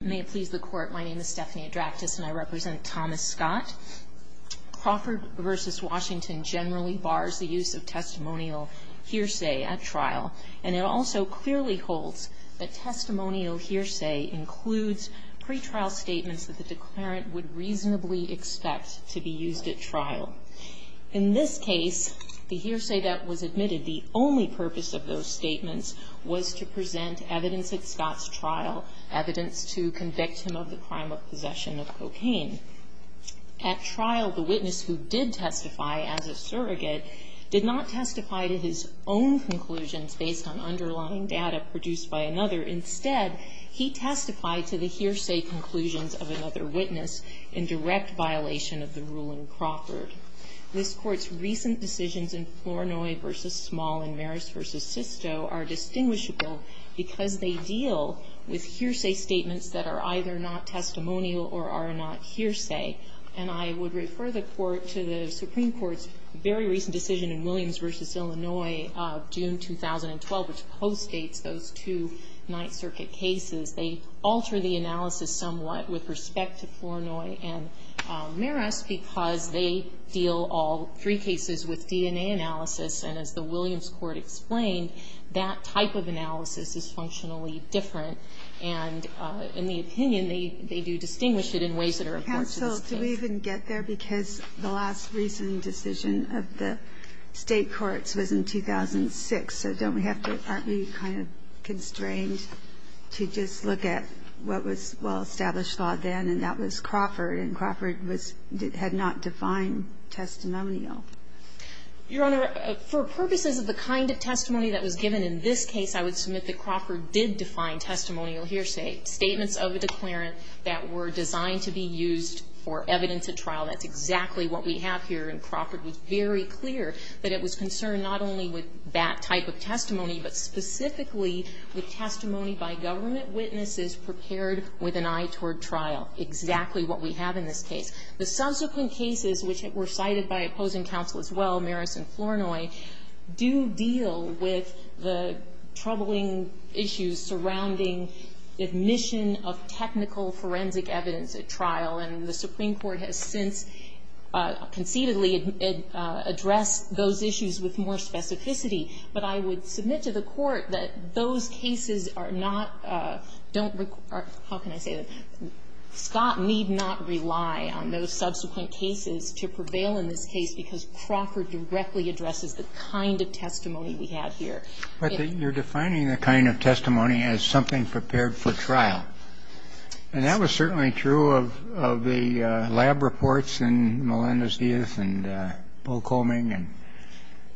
May it please the Court, my name is Stephanie Adraktis and I represent Thomas Scott. Crawford v. Washington generally bars the use of testimonial hearsay at trial, and it also clearly holds that testimonial hearsay includes pre-trial statements that the declarant would reasonably expect to be used at trial. In this case, the hearsay that was admitted, the only purpose of those statements was to present evidence at Scott's trial, evidence to convict him of the crime of possession of cocaine. At trial, the witness who did testify as a surrogate did not testify to his own conclusions based on underlying data produced by another. Instead, he testified to the hearsay conclusions of another witness in direct violation of the ruling Crawford. This Court's recent decisions in Flournoy v. Small and Maris v. Sisto are distinguishable because they deal with hearsay statements that are either not testimonial or are not hearsay. And I would refer the Court to the Supreme Court's very recent decision in Williams v. Illinois of June 2012, which postdates those two Ninth Circuit cases. They alter the analysis somewhat with respect to Flournoy and Maris because they deal all three cases with DNA analysis, and as the Williams Court explained, that type of analysis is functionally different. And in the opinion, they do distinguish it in ways that are important to the State. Ginsburg. Counsel, do we even get there? Because the last recent decision of the State courts was in 2006, so don't we have to be kind of constrained to just look at what was well-established then, and that was Crawford, and Crawford had not defined testimonial? Your Honor, for purposes of the kind of testimony that was given in this case, I would submit that Crawford did define testimonial hearsay, statements of a declarant that were designed to be used for evidence at trial. That's exactly what we have here, and Crawford was very clear that it was concerned not only with that type of testimony, but specifically with testimony by government witnesses prepared with an eye toward trial, exactly what we have in this case. The subsequent cases, which were cited by opposing counsel as well, Maris and Flournoy, do deal with the troubling issues surrounding admission of technical forensic evidence at trial, and the Supreme Court has since conceitedly addressed those issues with more specificity. But I would submit to the Court that those cases are not, don't require, how can I say this, Scott need not rely on those subsequent cases to prevail in this case because Crawford directly addresses the kind of testimony we have here. But you're defining the kind of testimony as something prepared for trial, and that was certainly true of the lab reports in Melendez-Diaz and Bocoming and others.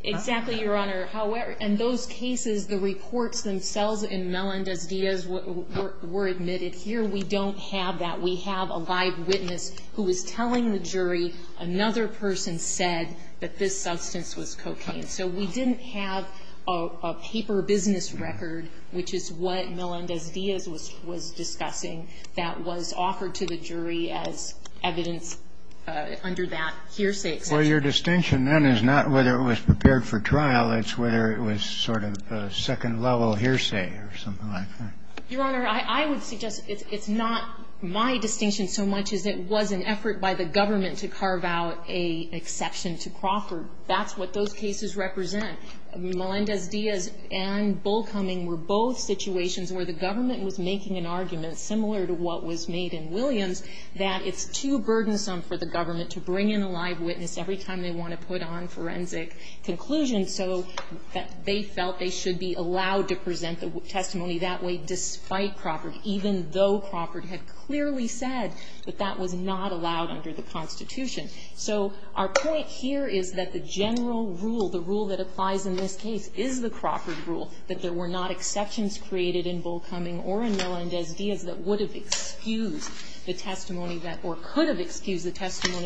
Exactly, Your Honor. However, in those cases, the reports themselves in Melendez-Diaz were admitted. Here we don't have that. We have a live witness who is telling the jury another person said that this substance was cocaine. So we didn't have a paper business record, which is what Melendez-Diaz was discussing, that was offered to the jury as evidence under that hearsay. Well, your distinction then is not whether it was prepared for trial. It's whether it was sort of a second-level hearsay or something like that. Your Honor, I would suggest it's not my distinction so much as it was an effort by the government to carve out an exception to Crawford. That's what those cases represent. Melendez-Diaz and Bocoming were both situations where the government was making an argument, similar to what was made in Williams, that it's too burdensome for the government to bring in a live witness every time they want to put on forensic conclusions so that they felt they should be allowed to present the testimony that way despite Crawford, even though Crawford had clearly said that that was not allowed under the Constitution. So our point here is that the general rule, the rule that applies in this case, is the Crawford rule, that there were not exceptions created in Bocoming or in the testimony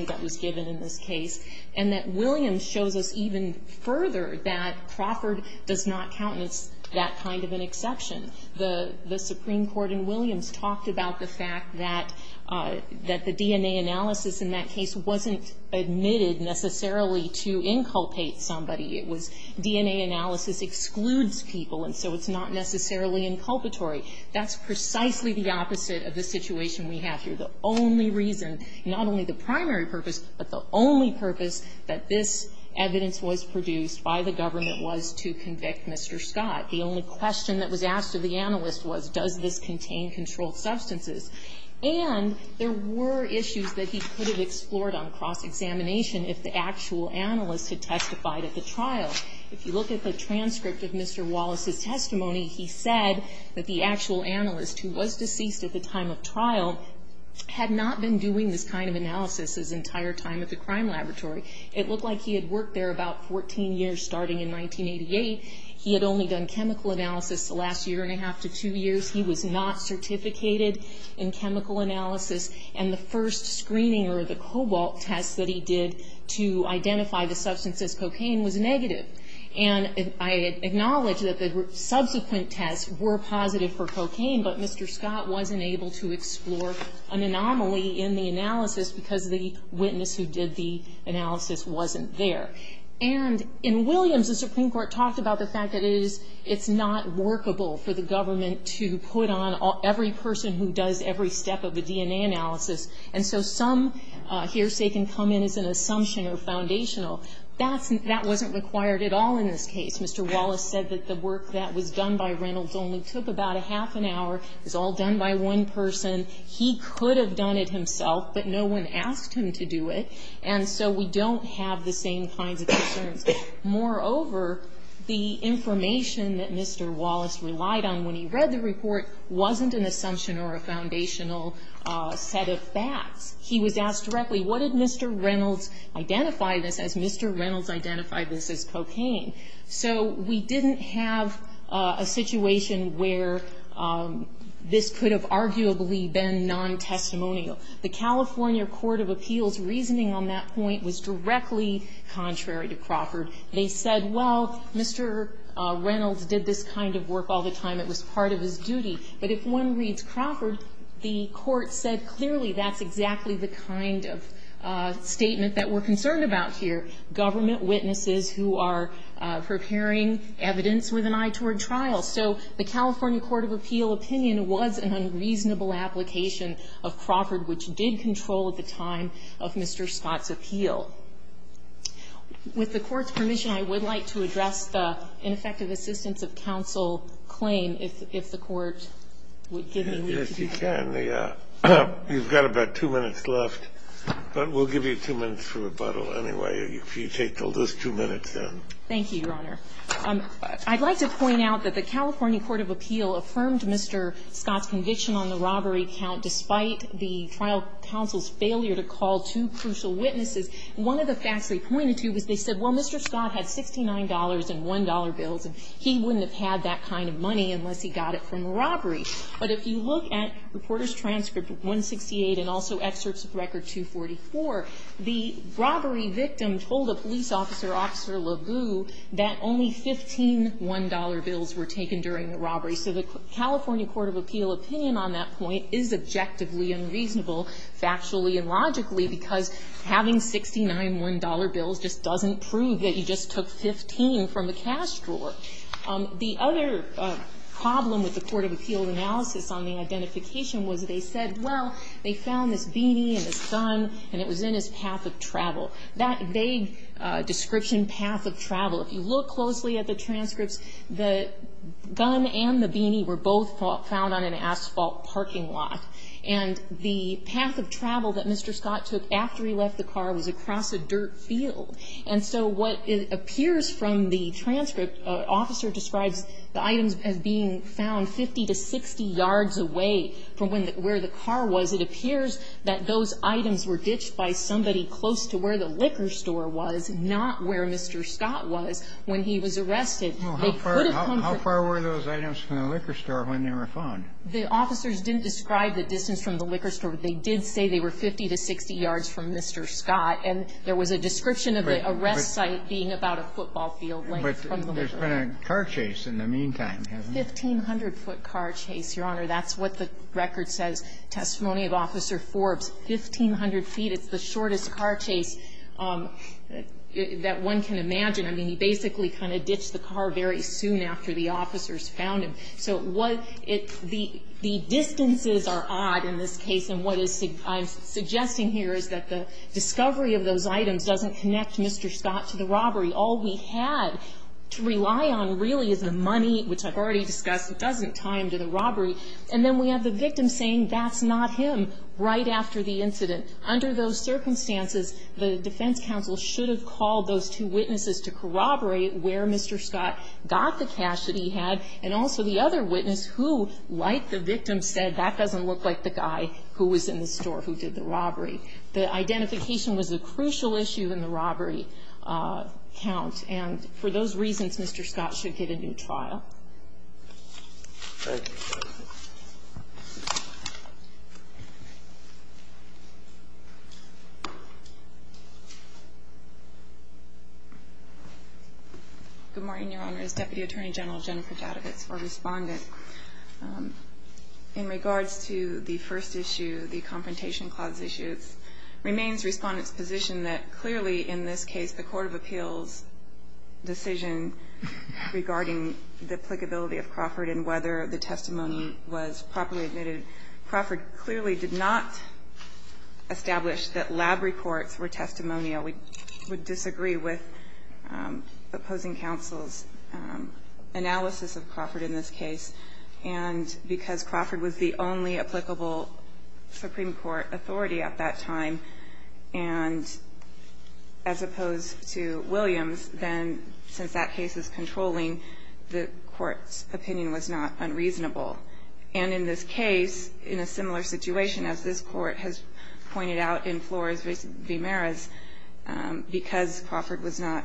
that was given in this case, and that Williams shows us even further that Crawford does not count as that kind of an exception. The Supreme Court in Williams talked about the fact that the DNA analysis in that case wasn't admitted necessarily to inculpate somebody. It was DNA analysis excludes people, and so it's not necessarily inculpatory. That's precisely the opposite of the situation we have here. The only reason, not only the primary purpose, but the only purpose that this evidence was produced by the government was to convict Mr. Scott. The only question that was asked of the analyst was, does this contain controlled substances? And there were issues that he could have explored on cross-examination if the actual analyst had testified at the trial. If you look at the transcript of Mr. Wallace's testimony, he said that the actual analyst had not been doing this kind of analysis his entire time at the crime laboratory. It looked like he had worked there about 14 years, starting in 1988. He had only done chemical analysis the last year and a half to two years. He was not certificated in chemical analysis. And the first screening or the cobalt test that he did to identify the substance as cocaine was negative. And I acknowledge that the subsequent tests were positive for cocaine, but Mr. Scott wasn't able to explore an anomaly in the analysis because the witness who did the analysis wasn't there. And in Williams, the Supreme Court talked about the fact that it's not workable for the government to put on every person who does every step of a DNA analysis. And so some hearsay can come in as an assumption or foundational. That wasn't required at all in this case. Mr. Wallace said that the work that was done by Reynolds only took about a half an hour. It was all done by one person. He could have done it himself, but no one asked him to do it. And so we don't have the same kinds of concerns. Moreover, the information that Mr. Wallace relied on when he read the report wasn't an assumption or a foundational set of facts. He was asked directly, what did Mr. Reynolds identify this as? Mr. Reynolds identified this as cocaine. So we didn't have a situation where this could have arguably been non-testimonial. The California Court of Appeals' reasoning on that point was directly contrary to Crawford. They said, well, Mr. Reynolds did this kind of work all the time. It was part of his duty. But if one reads Crawford, the Court said clearly that's exactly the kind of statement that we're concerned about here. So the California Court of Appeals' opinion was that it was an unreasonable application of Crawford, which did control at the time of Mr. Scott's appeal. With the Court's permission, I would like to address the ineffective assistance of counsel claim, if the Court would give me the opportunity. Kennedy. You've got about two minutes left, but we'll give you two minutes for rebuttal anyway, if you could. If you take those two minutes, then. Thank you, Your Honor. I'd like to point out that the California Court of Appeals affirmed Mr. Scott's conviction on the robbery count despite the trial counsel's failure to call two crucial witnesses. One of the facts they pointed to was they said, well, Mr. Scott had $69 in $1 bills, and he wouldn't have had that kind of money unless he got it from a robbery. But if you look at Reporters' Transcript 168 and also excerpts of Record 244, the plaintiff told a police officer, Officer LaVue, that only 15 $1 bills were taken during the robbery. So the California Court of Appeals' opinion on that point is objectively unreasonable, factually and logically, because having 69 $1 bills just doesn't prove that you just took 15 from a cash drawer. The other problem with the Court of Appeals' analysis on the identification was they said, well, they found this beanie and this gun, and it was in his path of travel. That vague description, path of travel, if you look closely at the transcripts, the gun and the beanie were both found on an asphalt parking lot. And the path of travel that Mr. Scott took after he left the car was across a dirt field. And so what appears from the transcript, an officer describes the items as being found 50 to 60 yards away from where the car was. It appears that those items were ditched by somebody close to where the liquor store was, not where Mr. Scott was when he was arrested. They could have come from the liquor store. Kennedy. How far were those items from the liquor store when they were found? The officers didn't describe the distance from the liquor store. They did say they were 50 to 60 yards from Mr. Scott. And there was a description of the arrest site being about a football field length from the liquor store. But there's been a car chase in the meantime, hasn't there? A 1,500-foot car chase, Your Honor. That's what the record says. Testimony of Officer Forbes. 1,500 feet. It's the shortest car chase that one can imagine. I mean, he basically kind of ditched the car very soon after the officers found him. So the distances are odd in this case. And what I'm suggesting here is that the discovery of those items doesn't connect Mr. Scott to the robbery. All we had to rely on, really, is the money, which I've already discussed, doesn't tie him to the robbery. And then we have the victim saying that's not him right after the incident. Under those circumstances, the defense counsel should have called those two witnesses to corroborate where Mr. Scott got the cash that he had, and also the other witness who, like the victim, said that doesn't look like the guy who was in the store who did the robbery. The identification was a crucial issue in the robbery count. And for those reasons, Mr. Scott should get a new trial. Thank you. Good morning, Your Honors. Deputy Attorney General Jennifer Jadavitz for Respondent. In regards to the first issue, the Confrontation Clause issue, it remains Respondent's position that clearly, in this case, the Court of Appeals' decision regarding the applicability of Crawford and whether the testimony was properly admitted, Crawford clearly did not establish that lab reports were testimonial. We would disagree with opposing counsel's analysis of Crawford in this case. And because Crawford was the only applicable Supreme Court authority at that time and as opposed to Williams, then, since that case is controlling, the Court's opinion was not unreasonable. And in this case, in a similar situation, as this Court has pointed out in Flores v. Maris, because Crawford was not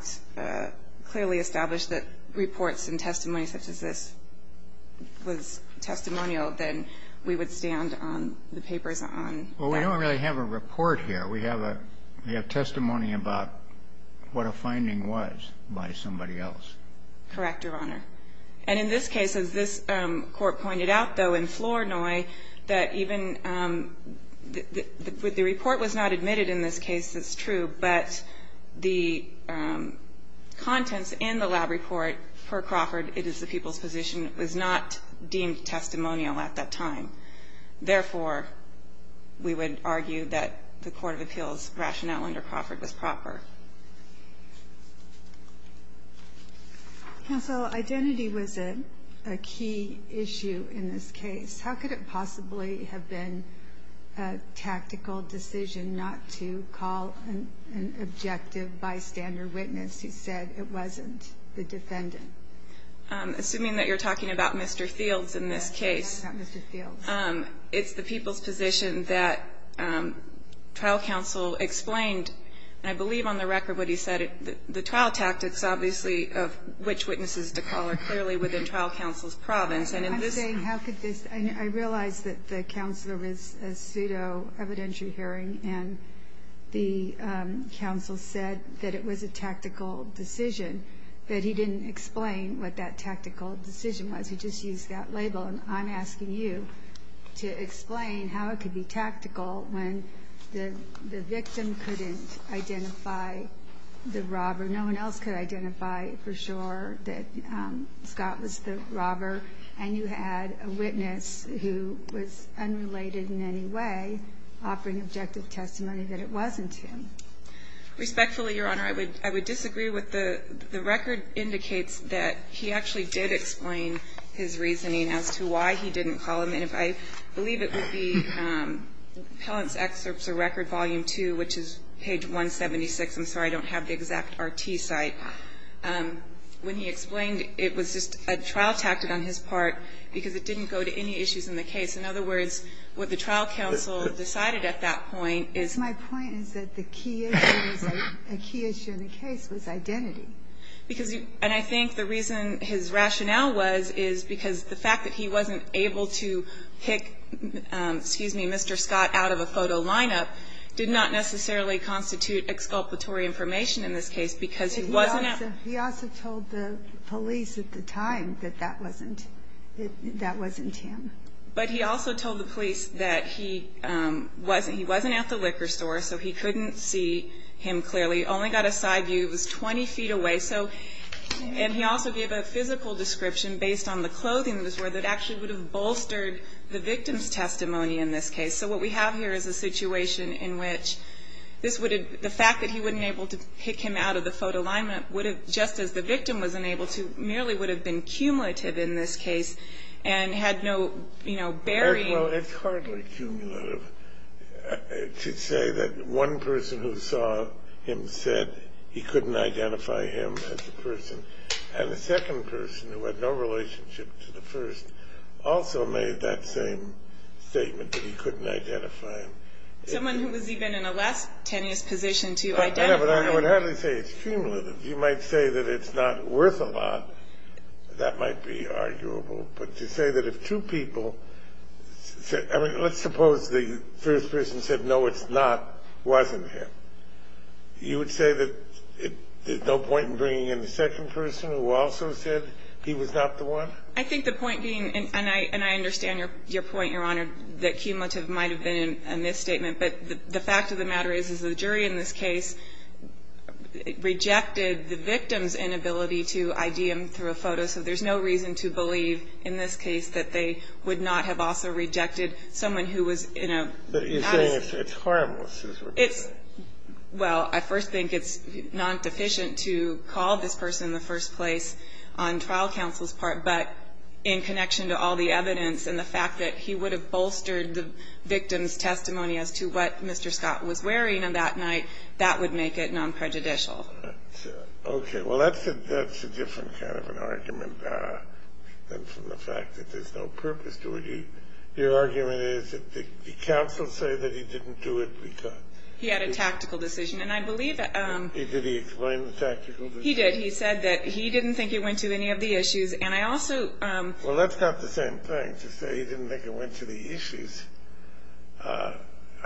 clearly established that reports and testimony such as this was testimonial, then we would stand on the papers on that. We don't really have a report here. We have testimony about what a finding was by somebody else. Correct, Your Honor. And in this case, as this Court pointed out, though, in Flores v. Noy, that even the report was not admitted in this case. That's true. But the contents in the lab report for Crawford, it is the people's position, was not deemed testimonial at that time. Therefore, we would argue that the court of appeals rationale under Crawford was proper. Counsel, identity was a key issue in this case. How could it possibly have been a tactical decision not to call an objective bystander witness who said it wasn't the defendant? Assuming that you're talking about Mr. Fields in this case. I'm talking about Mr. Fields. It's the people's position that trial counsel explained, and I believe on the record what he said, the trial tactics obviously of which witnesses to call are clearly within trial counsel's province. I'm saying how could this be? I realize that the counselor was a pseudo evidentiary hearing, and the counsel said that it was a tactical decision, but he didn't explain what that tactical decision was. He just used that label. And I'm asking you to explain how it could be tactical when the victim couldn't identify the robber. No one else could identify for sure that Scott was the robber, and you had a witness who was unrelated in any way offering objective testimony that it wasn't him. Respectfully, Your Honor, I would disagree with the record indicates that he actually did explain his reasoning as to why he didn't call him, and I believe it would be Appellant's Excerpts of Record, Volume 2, which is page 176. I'm sorry, I don't have the exact RT site. When he explained it was just a trial tactic on his part because it didn't go to any issues in the case. In other words, what the trial counsel decided at that point is my point is that the key issue in the case was identity. Because, and I think the reason his rationale was is because the fact that he wasn't able to pick, excuse me, Mr. Scott out of a photo lineup did not necessarily constitute exculpatory information in this case because he wasn't at. He also told the police at the time that that wasn't him. But he also told the police that he wasn't at the liquor store, so he couldn't see him clearly. He only got a side view. He was 20 feet away. So, and he also gave a physical description based on the clothing that he was wearing that actually would have bolstered the victim's testimony in this case. So what we have here is a situation in which this would have, the fact that he wasn't able to pick him out of the photo lineup would have, just as the victim was unable to, merely would have been cumulative in this case and had no, you know, bearing. Well, it's hardly cumulative to say that one person who saw him said he couldn't identify him as a person. And the second person, who had no relationship to the first, also made that same statement that he couldn't identify him. Someone who was even in a less tenuous position to identify him. Yeah, but I would hardly say it's cumulative. You might say that it's not worth a lot. That might be arguable. But to say that if two people, I mean, let's suppose the first person said, no, it's not, wasn't him. You would say that there's no point in bringing in the second person who also said he was not the one? I think the point being, and I understand your point, Your Honor, that cumulative might have been a misstatement. But the fact of the matter is, is the jury in this case rejected the victim's inability to ID him through a photo. So there's no reason to believe in this case that they would not have also rejected someone who was in a nice. But you're saying it's harmless, is what you're saying. Well, I first think it's non-deficient to call this person in the first place on trial counsel's part. But in connection to all the evidence and the fact that he would have bolstered the victim's testimony as to what Mr. Scott was wearing on that night, that would make it non-prejudicial. Okay. Well, that's a different kind of an argument than from the fact that there's no purpose to it. Your argument is that the counsel said that he didn't do it because. He had a tactical decision. And I believe. Did he explain the tactical decision? He did. He said that he didn't think it went to any of the issues. And I also. Well, that's not the same thing to say he didn't think it went to the issues. I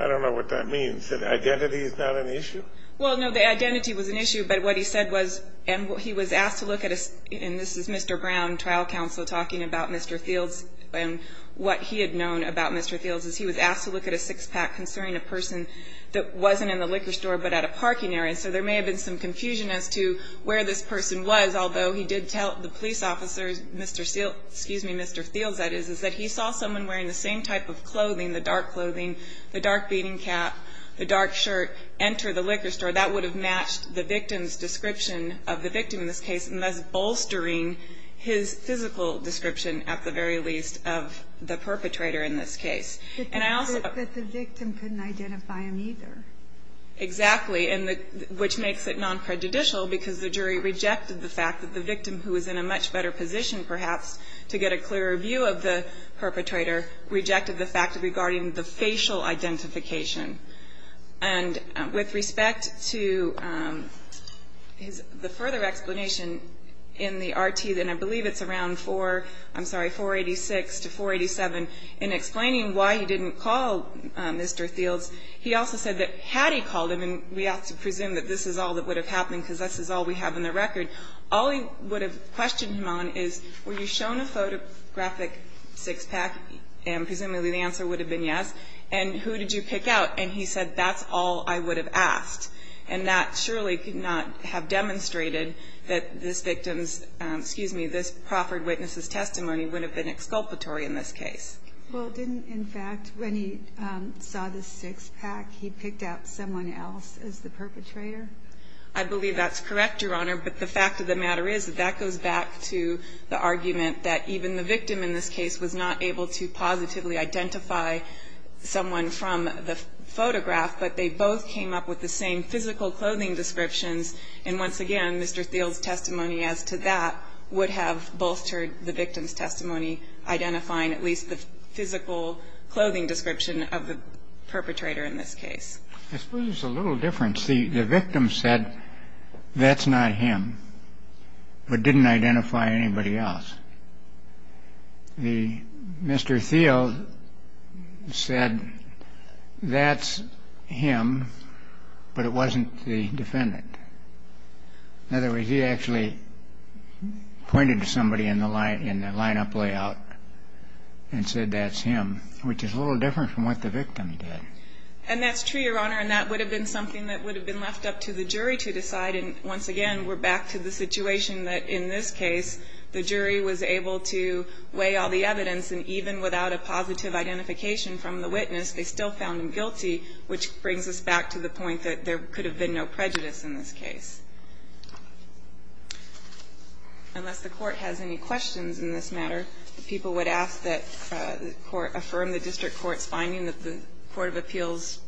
don't know what that means. That identity is not an issue? Well, no. The identity was an issue. But what he said was. And he was asked to look at. And this is Mr. Brown, trial counsel, talking about Mr. Fields. And what he had known about Mr. Fields is he was asked to look at a six-pack concerning a person that wasn't in the liquor store but at a parking area. So there may have been some confusion as to where this person was, although he did tell the police officers, Mr. Fields, that he saw someone wearing the same type of clothing, the dark clothing, the dark beading cap, the dark shirt, enter the liquor store. That would have matched the victim's description of the victim in this case, and thus bolstering his physical description, at the very least, of the perpetrator in this case. And I also. But the victim couldn't identify him either. Exactly. And which makes it non-prejudicial because the jury rejected the fact that the victim, who was in a much better position, perhaps, to get a clearer view of the perpetrator, rejected the fact regarding the facial identification. And with respect to the further explanation in the RT, and I believe it's around 486 to 487, in explaining why he didn't call Mr. Fields, he also said that had he called him, and we have to presume that this is all that would have happened because this is all we have in the record, all he would have questioned him on is were you shown a photographic six-pack? And presumably the answer would have been yes. And who did you pick out? And he said, that's all I would have asked. And that surely could not have demonstrated that this victim's, excuse me, this proffered witness's testimony would have been exculpatory in this case. Well, didn't, in fact, when he saw the six-pack, he picked out someone else as the perpetrator? I believe that's correct, Your Honor. But the fact of the matter is that that goes back to the argument that even the victim in this case was not able to positively identify someone from the photograph, but they both came up with the same physical clothing descriptions. And once again, Mr. Fields' testimony as to that would have bolstered the victim's testimony, identifying at least the physical clothing description of the perpetrator in this case. I suppose there's a little difference. The victim said, that's not him, but didn't identify anybody else. Mr. Field said, that's him, but it wasn't the defendant. In other words, he actually pointed to somebody in the line-up layout and said, that's him, which is a little different from what the victim did. And that's true, Your Honor, and that would have been something that would have been left up to the jury to decide. And once again, we're back to the situation that in this case, the jury was able to weigh all the evidence, and even without a positive identification from the witness, they still found him guilty, which brings us back to the point that there could have been no prejudice in this case. Unless the Court has any questions in this matter, the people would ask that the Court of Appeals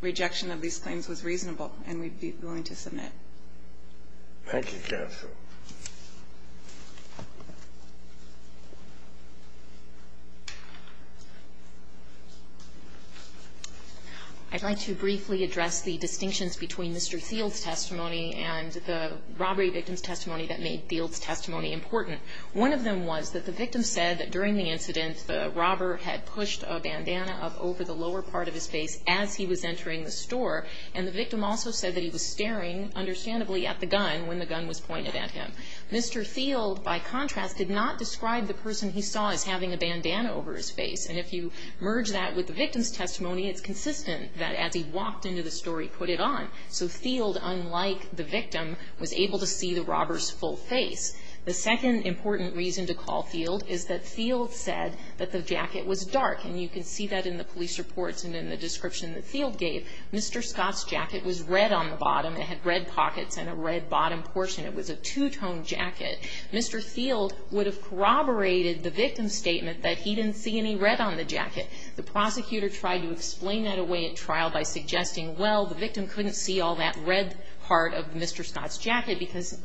rejection of these claims was reasonable, and we'd be willing to submit. Thank you, counsel. I'd like to briefly address the distinctions between Mr. Field's testimony and the robbery victim's testimony that made Field's testimony important. One of them was that the victim said that during the incident, the robber had pushed a bandana up over the lower part of his face as he was entering the store, and the victim also said that he was staring, understandably, at the gun when the gun was pointed at him. Mr. Field, by contrast, did not describe the person he saw as having a bandana over his face. And if you merge that with the victim's testimony, it's consistent that as he walked into the store, he put it on. So Field, unlike the victim, was able to see the robber's full face. The second important reason to call Field is that Field said that the jacket was dark. And you can see that in the police reports and in the description that Field gave. Mr. Scott's jacket was red on the bottom. It had red pockets and a red bottom portion. It was a two-tone jacket. Mr. Field would have corroborated the victim's statement that he didn't see any red on the jacket. The prosecutor tried to explain that away at trial by suggesting, well, the victim couldn't see all that red part of Mr. Scott's jacket because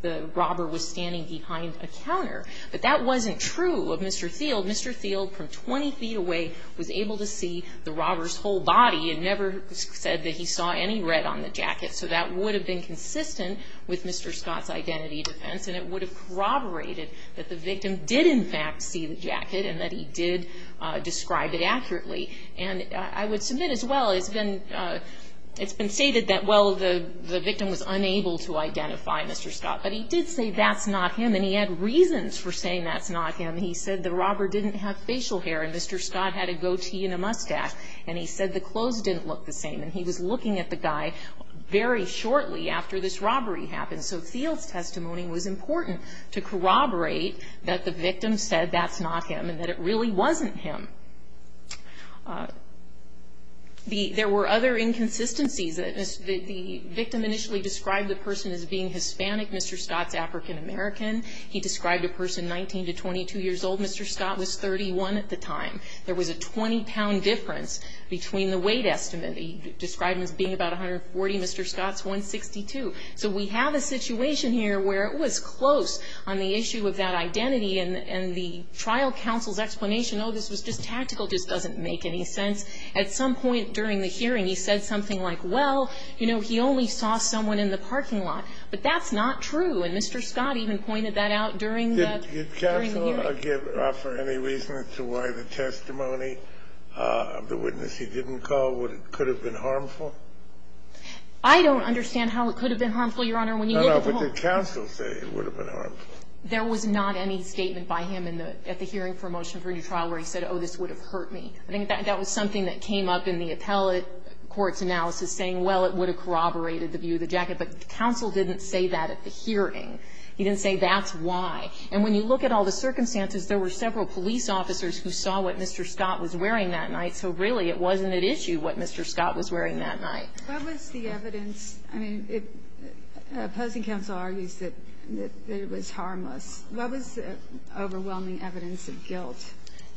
the robber was standing behind a counter. But that wasn't true of Mr. Field. Mr. Field, from 20 feet away, was able to see the robber's whole body and never said that he saw any red on the jacket. So that would have been consistent with Mr. Scott's identity defense, and it would have corroborated that the victim did, in fact, see the jacket and that he did describe it accurately. And I would submit, as well, it's been stated that, well, the victim was unable to identify Mr. Scott. But he did say that's not him, and he had reasons for saying that's not him. He said the robber didn't have facial hair, and Mr. Scott had a goatee and a mustache. And he said the clothes didn't look the same. And he was looking at the guy very shortly after this robbery happened. So Field's testimony was important to corroborate that the victim said that's not him and that it really wasn't him. There were other inconsistencies. The victim initially described the person as being Hispanic. Mr. Scott's African-American. He described a person 19 to 22 years old. Mr. Scott was 31 at the time. There was a 20-pound difference between the weight estimate. He described him as being about 140. Mr. Scott's 162. So we have a situation here where it was close on the issue of that identity. And the trial counsel's explanation, oh, this was just tactical, just doesn't make any sense. At some point during the hearing, he said something like, well, you know, he only saw someone in the parking lot. But that's not true. And Mr. Scott even pointed that out during the hearing. Did counsel offer any reason as to why the testimony of the witness he didn't call could have been harmful? I don't understand how it could have been harmful, Your Honor, when you look at the whole thing. But did counsel say it would have been harmful? There was not any statement by him at the hearing for a motion for a new trial where he said, oh, this would have hurt me. I think that was something that came up in the appellate court's analysis, saying, well, it would have corroborated the view of the jacket. But counsel didn't say that at the hearing. He didn't say that's why. And when you look at all the circumstances, there were several police officers who saw what Mr. Scott was wearing that night. So really it wasn't at issue what Mr. Scott was wearing that night. What was the evidence? I mean, opposing counsel argues that it was harmless. What was the overwhelming evidence of guilt?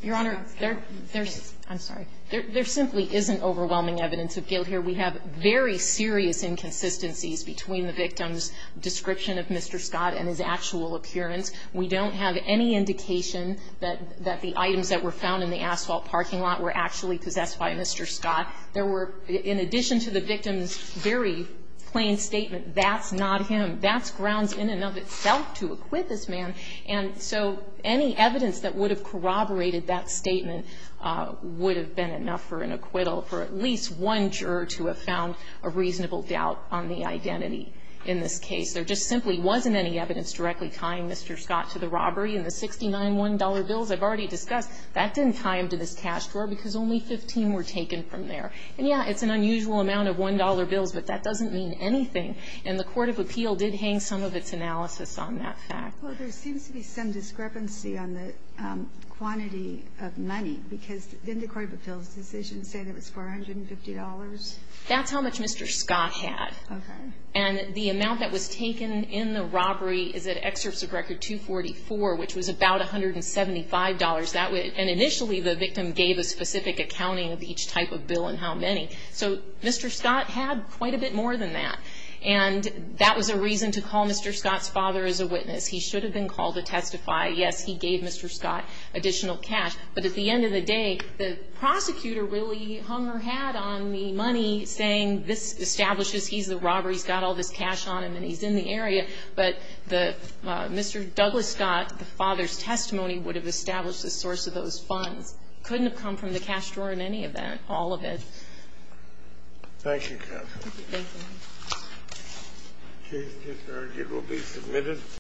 Your Honor, there's – I'm sorry. There simply isn't overwhelming evidence of guilt here. We have very serious inconsistencies between the victim's description of Mr. Scott and his actual appearance. We don't have any indication that the items that were found in the asphalt parking lot were actually possessed by Mr. Scott. There were, in addition to the victim's very plain statement, that's not him, that's grounds in and of itself to acquit this man. And so any evidence that would have corroborated that statement would have been enough for an acquittal for at least one juror to have found a reasonable doubt on the identity in this case. There just simply wasn't any evidence directly tying Mr. Scott to the robbery in the $69,1 bills I've already discussed. That didn't tie him to this cash drawer because only 15 were taken from there. And, yeah, it's an unusual amount of $1 bills, but that doesn't mean anything. And the court of appeal did hang some of its analysis on that fact. Well, there seems to be some discrepancy on the quantity of money, because didn't the court of appeal's decision say that it was $450? That's how much Mr. Scott had. Okay. And the amount that was taken in the robbery is at excerpts of record 244, which was about $175. And initially the victim gave a specific accounting of each type of bill and how many. So Mr. Scott had quite a bit more than that. And that was a reason to call Mr. Scott's father as a witness. He should have been called to testify. Yes, he gave Mr. Scott additional cash. But at the end of the day, the prosecutor really hung her hat on the money, saying this establishes he's the robber, he's got all this cash on him, and he's in the area. But the Mr. Douglas Scott, the father's testimony, would have established the source of those funds. Couldn't have come from the cash drawer in any of that, all of it. Thank you, counsel. Thank you. Thank you.